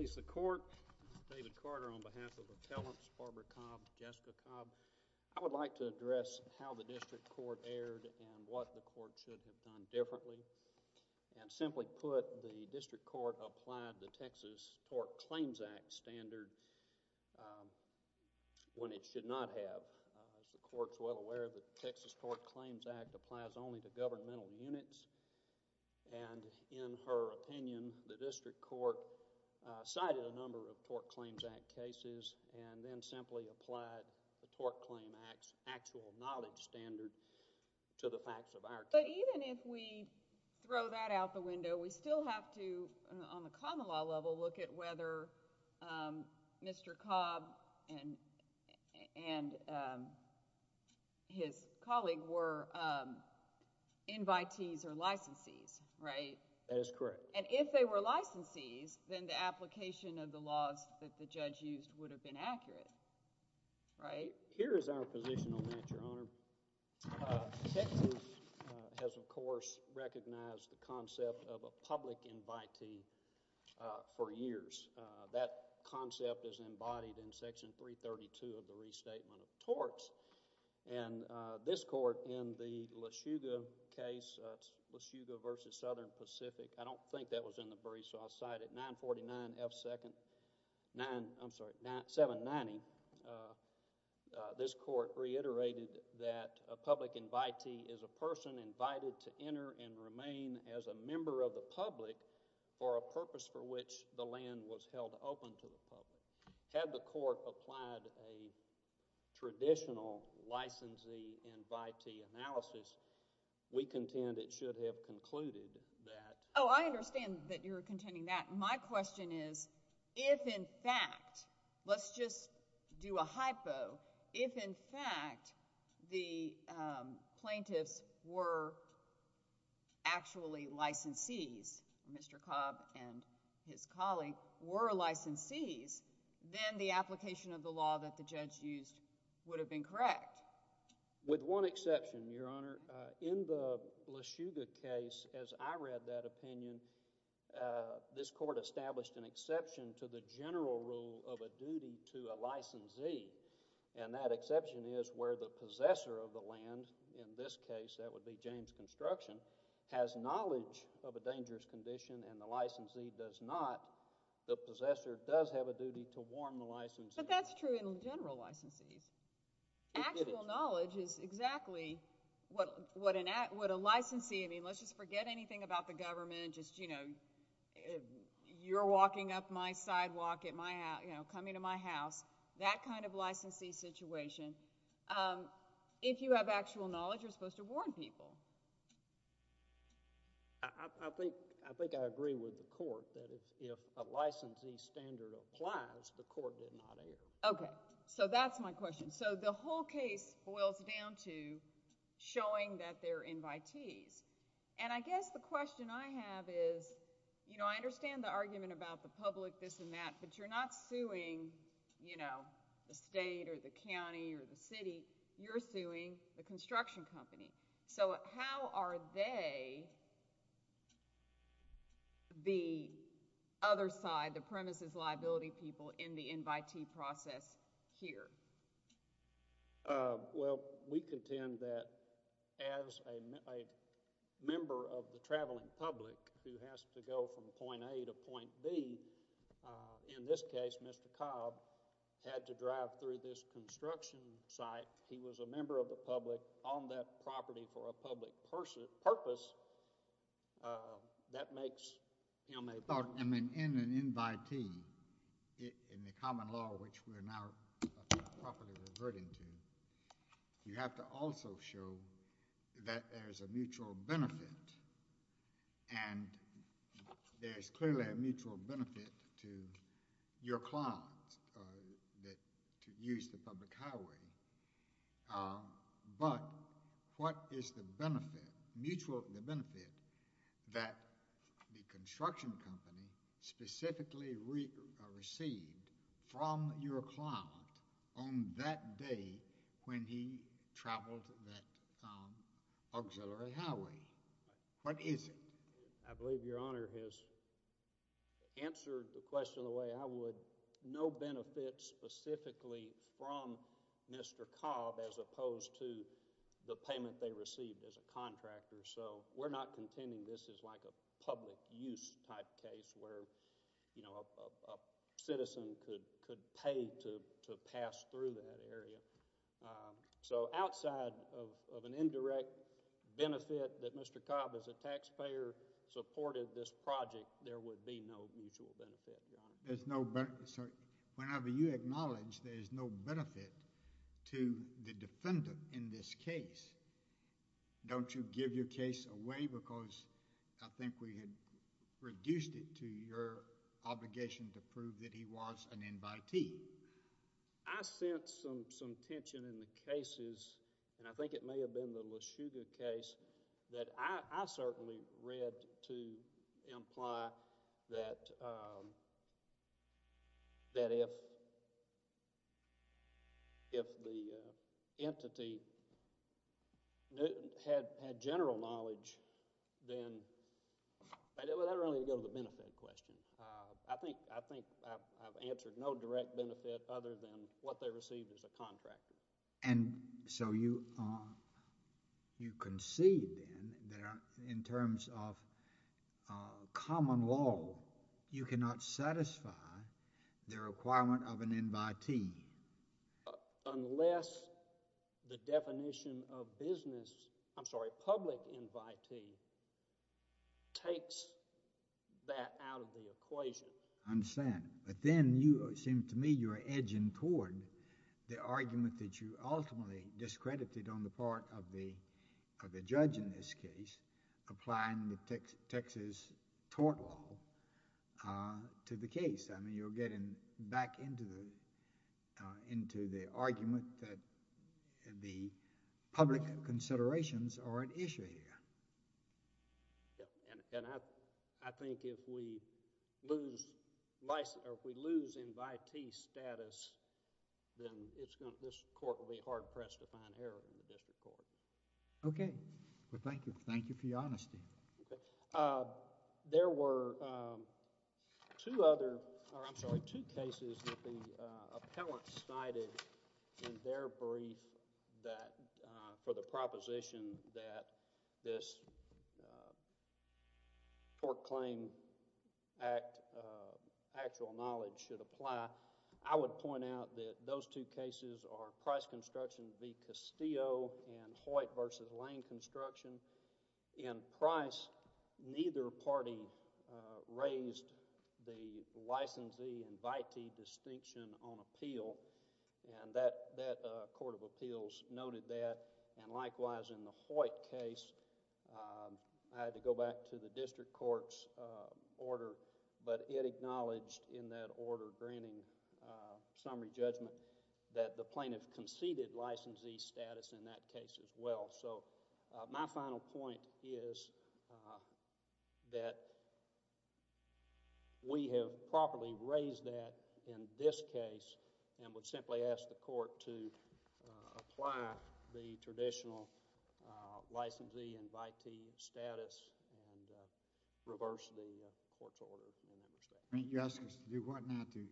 I would like to address how the district court erred and what the court should have done differently. Simply put, the district court applied the Texas Tort Claims Act standard when it should not have. As the court is well aware, the Texas Tort Claims Act applies only to governmental units. And in her opinion, the district court cited a number of Tort Claims Act cases and then simply applied the Tort Claim Act's actual knowledge standard to the facts of our case. But even if we throw that out the window, we still have to, on the common law level, look at whether Mr. Cobb and his colleague were invitees or licensees, right? That is correct. And if they were licensees, then the application of the laws that the judge used would have been accurate, right? Here is our position on that, Your Honor. Thank you. The Texas has, of course, recognized the concept of a public invitee for years. That concept is embodied in Section 332 of the Restatement of Torts. This Court in the Lushuga case, Lushuga v. Southern Pacific... I don't think that a public invitee is a person invited to enter and remain as a member of the public for a purpose for which the land was held open to the public. Had the Court applied a traditional licensee invitee analysis, we contend it should have concluded that... Oh, I understand that you're contending that. My question is, if in fact, let's just do a hypo, if in fact the plaintiffs were actually licensees, Mr. Cobb and his colleague were licensees, then the application of the law that the judge used would have been correct. With one exception, Your Honor, in the Lushuga case, as I read that opinion, this Court established an exception to the general rule of a duty to a licensee, and that exception is where the possessor of the land, in this case, that would be James Construction, has knowledge of a dangerous condition and the licensee does not, the possessor does have a duty to warn the licensee. But that's true in general licensees. Actual knowledge is exactly what a licensee... I mean, let's just forget anything about the government, just, you know, you're walking up my sidewalk, coming to my house, that kind of licensee situation. If you have actual knowledge, you're supposed to warn people. I think I agree with the Court that if a licensee standard applies, the Court did not err. Okay. So that's my question. So the whole case boils down to showing that they're invitees, and I guess the question I have is, you know, I understand the argument about the public, this and that, but you're not suing, you know, the state or the county or the city, you're suing the construction company. So how are they, the other side, the premises liability people, in the invitee process here? Well, we contend that as a member of the traveling public who has to go from point A to point B, in this case, Mr. Cobb, had to drive through this construction site, he was a member of the public, on that property for a public purpose, that makes him a... I mean, in an invitee, in the common law, which we're now properly reverting to, you have to also show that there's a mutual benefit, and there's clearly a mutual benefit to your client to use the public highway, but what is the benefit, mutual benefit, that the construction company specifically received from your client on that day when he traveled that auxiliary highway? What is it? I believe your Honor has answered the question the way I would, no benefit specifically from Mr. Cobb as opposed to the payment they received as a contractor. So we're not contending this is like a public use type case where, you know, a citizen could pay to pass through that area. So, outside of an indirect benefit that Mr. Cobb as a taxpayer supported this project, there would be no mutual benefit, Your Honor. Whenever you acknowledge there's no benefit to the defendant in this case, don't you give your case away because I think we had reduced it to your obligation to prove that he was an invitee. I sense some tension in the cases, and I think it may have been the LeShuga case that I certainly read to imply that if the entity had general knowledge, then... I don't really go to the benefit question. I think I've answered no direct benefit other than what they received as a contractor. And so you concede then that in terms of common law, you cannot satisfy the requirement of an invitee? Unless the definition of business... I'm sorry, public invitee takes that out of the equation. I understand. But then you seem to me you're edging toward the argument that you ultimately discredited on the part of the judge in this case applying the Texas tort law to the case. I mean, you're getting back into the argument that the public considerations are an issue here. Yeah, and I think if we lose invitee status, then this court will be hard pressed to find error in the district court. Okay. Well, thank you. Thank you for your honesty. Okay. There were two other... I'm sorry, two cases that the appellant cited in their brief that for the proposition that this Tort Claim Act actual knowledge should apply, I would point out that those two cases are Price Construction v. Castillo and Hoyt v. Lane Construction. In Price, neither party raised the licensee invitee distinction on appeal and that court of appeals noted that and likewise in the Hoyt case, I had to go back to the district court's order, but it acknowledged in that order granting summary judgment that the plaintiff conceded licensee status in that case as well. So, my final point is that we have properly raised that in this case and would simply ask the court to apply the traditional licensee invitee status and reverse the court's order in that respect. I mean, you're asking us to do what now to...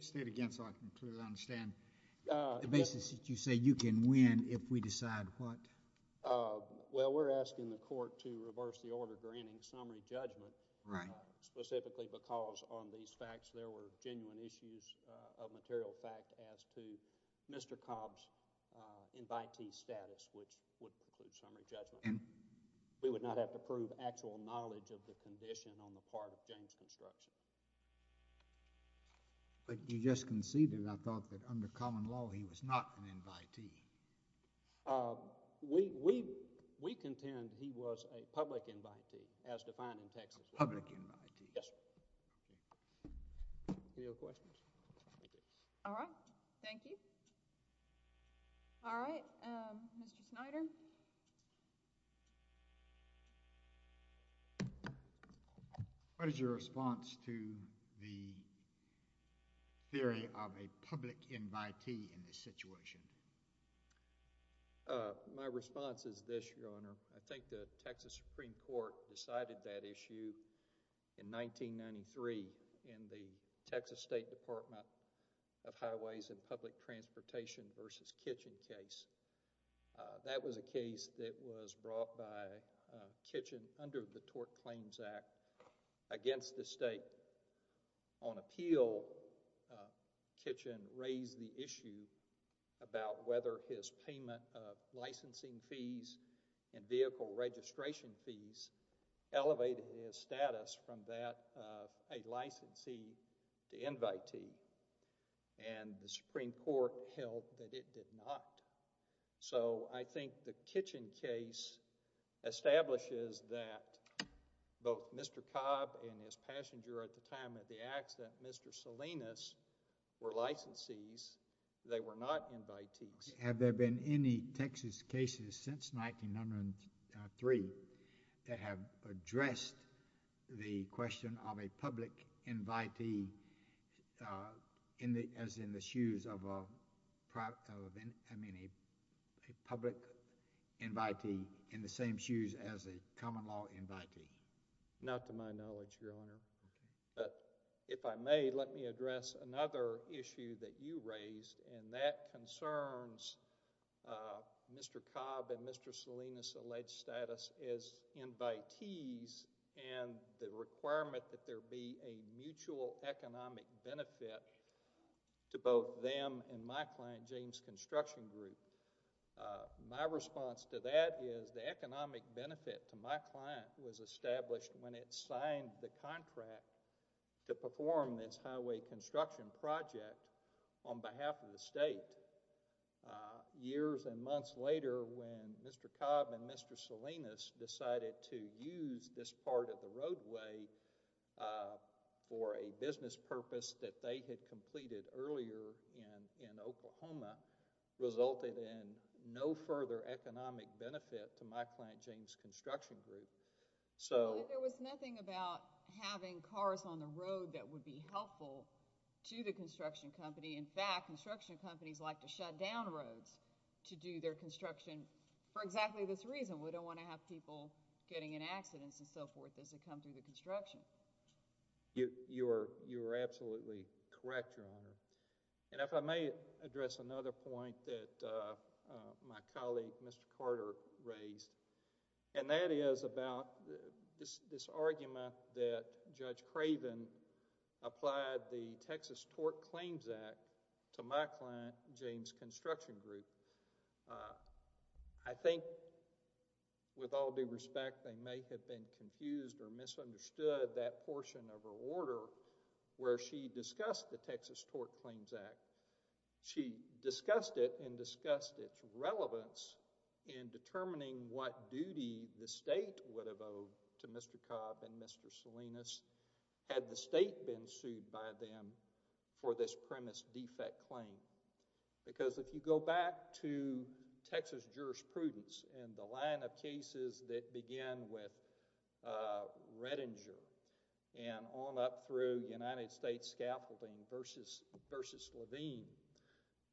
state again so I can clearly understand the basis that you say you can win if we decide what... Well, we're asking the court to reverse the order granting summary judgment specifically because on these facts there were genuine issues of material fact as to Mr. Cobb's invitee status which would include summary judgment. We would not have to prove actual knowledge of the condition on the part of James Construction. But you just conceded, I thought, that under common law he was not an invitee. We contend he was a public invitee as defined in Texas law. A public invitee. Yes, sir. Any other questions? All right. Thank you. All right. Mr. Snyder. What is your response to the theory of a public invitee in this situation? My response is this, Your Honor. I think the Texas Supreme Court decided that issue in 1993 in the Texas State Department of Highways and Public Transportation v. Kitchen case. That was a case that was brought by Kitchen under the Tort Claims Act against the state. On appeal, Kitchen raised the issue about whether his payment of licensing fees and vehicle registration fees elevated his status from that of a licensee to invitee. And the Supreme Court held that it did not. So I think the Kitchen case establishes that both Mr. Cobb and his passenger at the time of the accident, Mr. Salinas, were licensees. They were not invitees. Have there been any Texas cases since 1903 that have addressed the question of a public invitee as in the shoes of a public invitee in the same shoes as a common law invitee? Not to my knowledge, Your Honor. But if I may, let me address another issue that you raised, and that concerns Mr. Cobb and Mr. Salinas' alleged status as invitees and the requirement that there be a mutual economic benefit to both them and my client, James Construction Group. My response to that is the economic benefit to my client was established when it signed the contract to perform this highway construction project on behalf of the state. Years and months later when Mr. Cobb and Mr. Salinas decided to use this part of the roadway for a business purpose that they had completed earlier in Oklahoma resulted in no further economic benefit to my client, James Construction Group. But there was nothing about having cars on the road that would be helpful to the construction company. In fact, construction companies like to shut down roads to do their construction for exactly this reason. We don't want to have people getting in accidents and so forth as they come through the construction. You are absolutely correct, Your Honor. And if I may address another point that my colleague, Mr. Carter, raised, and that is about this argument that Judge Craven applied the Texas Tort Claims Act to my client, James Construction Group. I think with all due respect they may have been confused or misunderstood that portion of her order where she discussed the Texas Tort Claims Act. She discussed it and discussed its relevance in determining what duty the state would have owed to Mr. Cobb and Mr. Salinas had the state been sued by them for this premise defect claim. Because if you go back to Texas jurisprudence and the line of cases that began with Redinger and on up through United States Scaffolding versus Levine,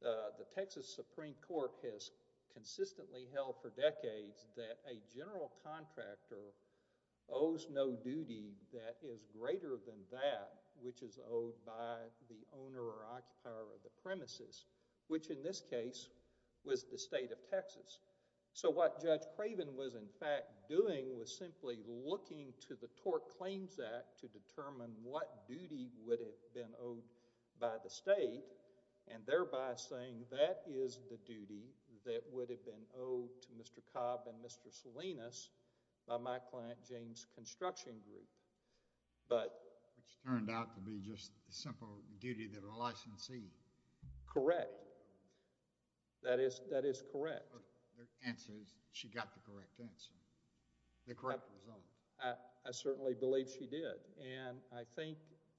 the Texas Supreme Court has consistently held for decades that a general contractor owes no duty that is greater than that which is owed by the owner or occupier of the premises, which in this case was the state of Texas. So what Judge Craven was in fact doing was simply looking to the Tort Claims Act to determine what duty would have been owed by the state and thereby saying that is the duty that would have been owed to Mr. Cobb and Mr. Salinas by my client, James Construction Group. But... Which turned out to be just the simple duty of a licensee. Correct. Correct. That is correct. The answer is she got the correct answer, the correct result. I certainly believe she did and I think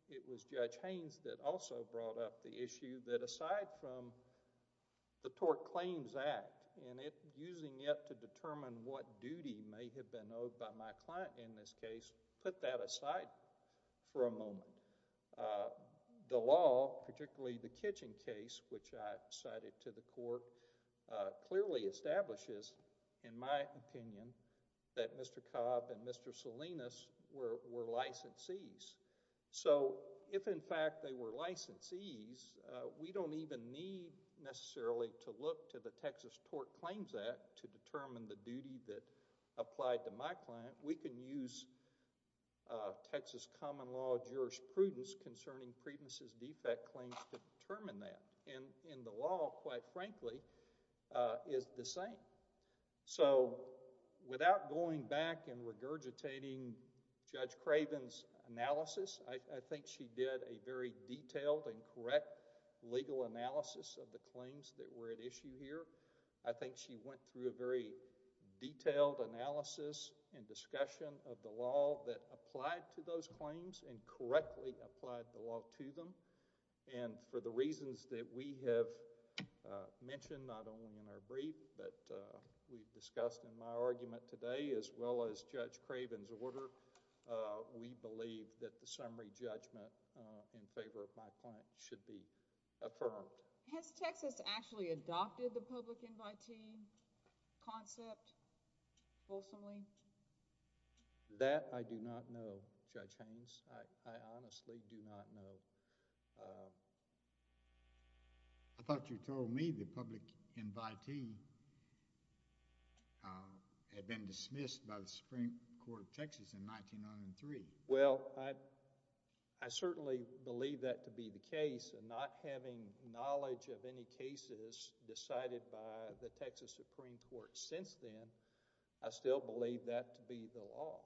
it was Judge Haynes that also brought up the issue that aside from the Tort Claims Act and using it to determine what duty may have been owed by my client in this case, put that aside for a moment. The law, particularly the Kitchen case, which I cited to the court, clearly establishes in my opinion that Mr. Cobb and Mr. Salinas were licensees. So if in fact they were licensees, we don't even need necessarily to look to the Texas Tort Claims Act to determine the duty that applied to my client. We can use Texas common law jurisprudence concerning Priebus' defect claims to determine that and the law, quite frankly, is the same. So without going back and regurgitating Judge Craven's analysis, I think she did a very detailed and correct legal analysis of the claims that were at issue here. I think she went through a very detailed analysis and discussion of the law that applied to those claims and correctly applied the law to them and for the reasons that we have mentioned not only in our brief but we've discussed in my argument today as well as Judge Craven's order, we believe that the summary judgment in favor of my client should be affirmed. Has Texas actually adopted the public invitee concept fulsomely? That I do not know, Judge Haynes. I honestly do not know. I thought you told me the public invitee had been dismissed by the Supreme Court of Texas in 1903. Well, I certainly believe that to be the case and not having knowledge of any cases decided by the Texas Supreme Court since then, I still believe that to be the law.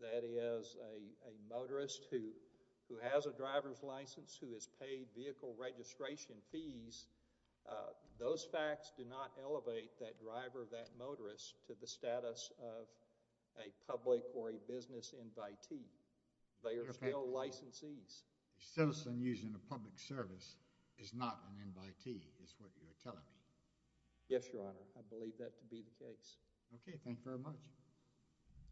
That is, a motorist who has a driver's license, who has paid vehicle registration fees, those facts do not elevate that driver or that motorist to the status of a public or a business invitee. They are still licensees. Okay. A citizen using a public service is not an invitee is what you're telling me. Yes, Your Honor. I believe that to be the case. Okay. Thank you very much.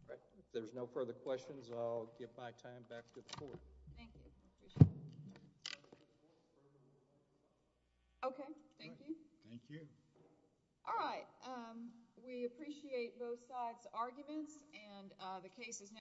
All right. If there's no further questions, I'll give my time back to the Court. Thank you. Okay. Thank you. Thank you. Thank you. All right. We appreciate both sides' arguments and the case is now closed.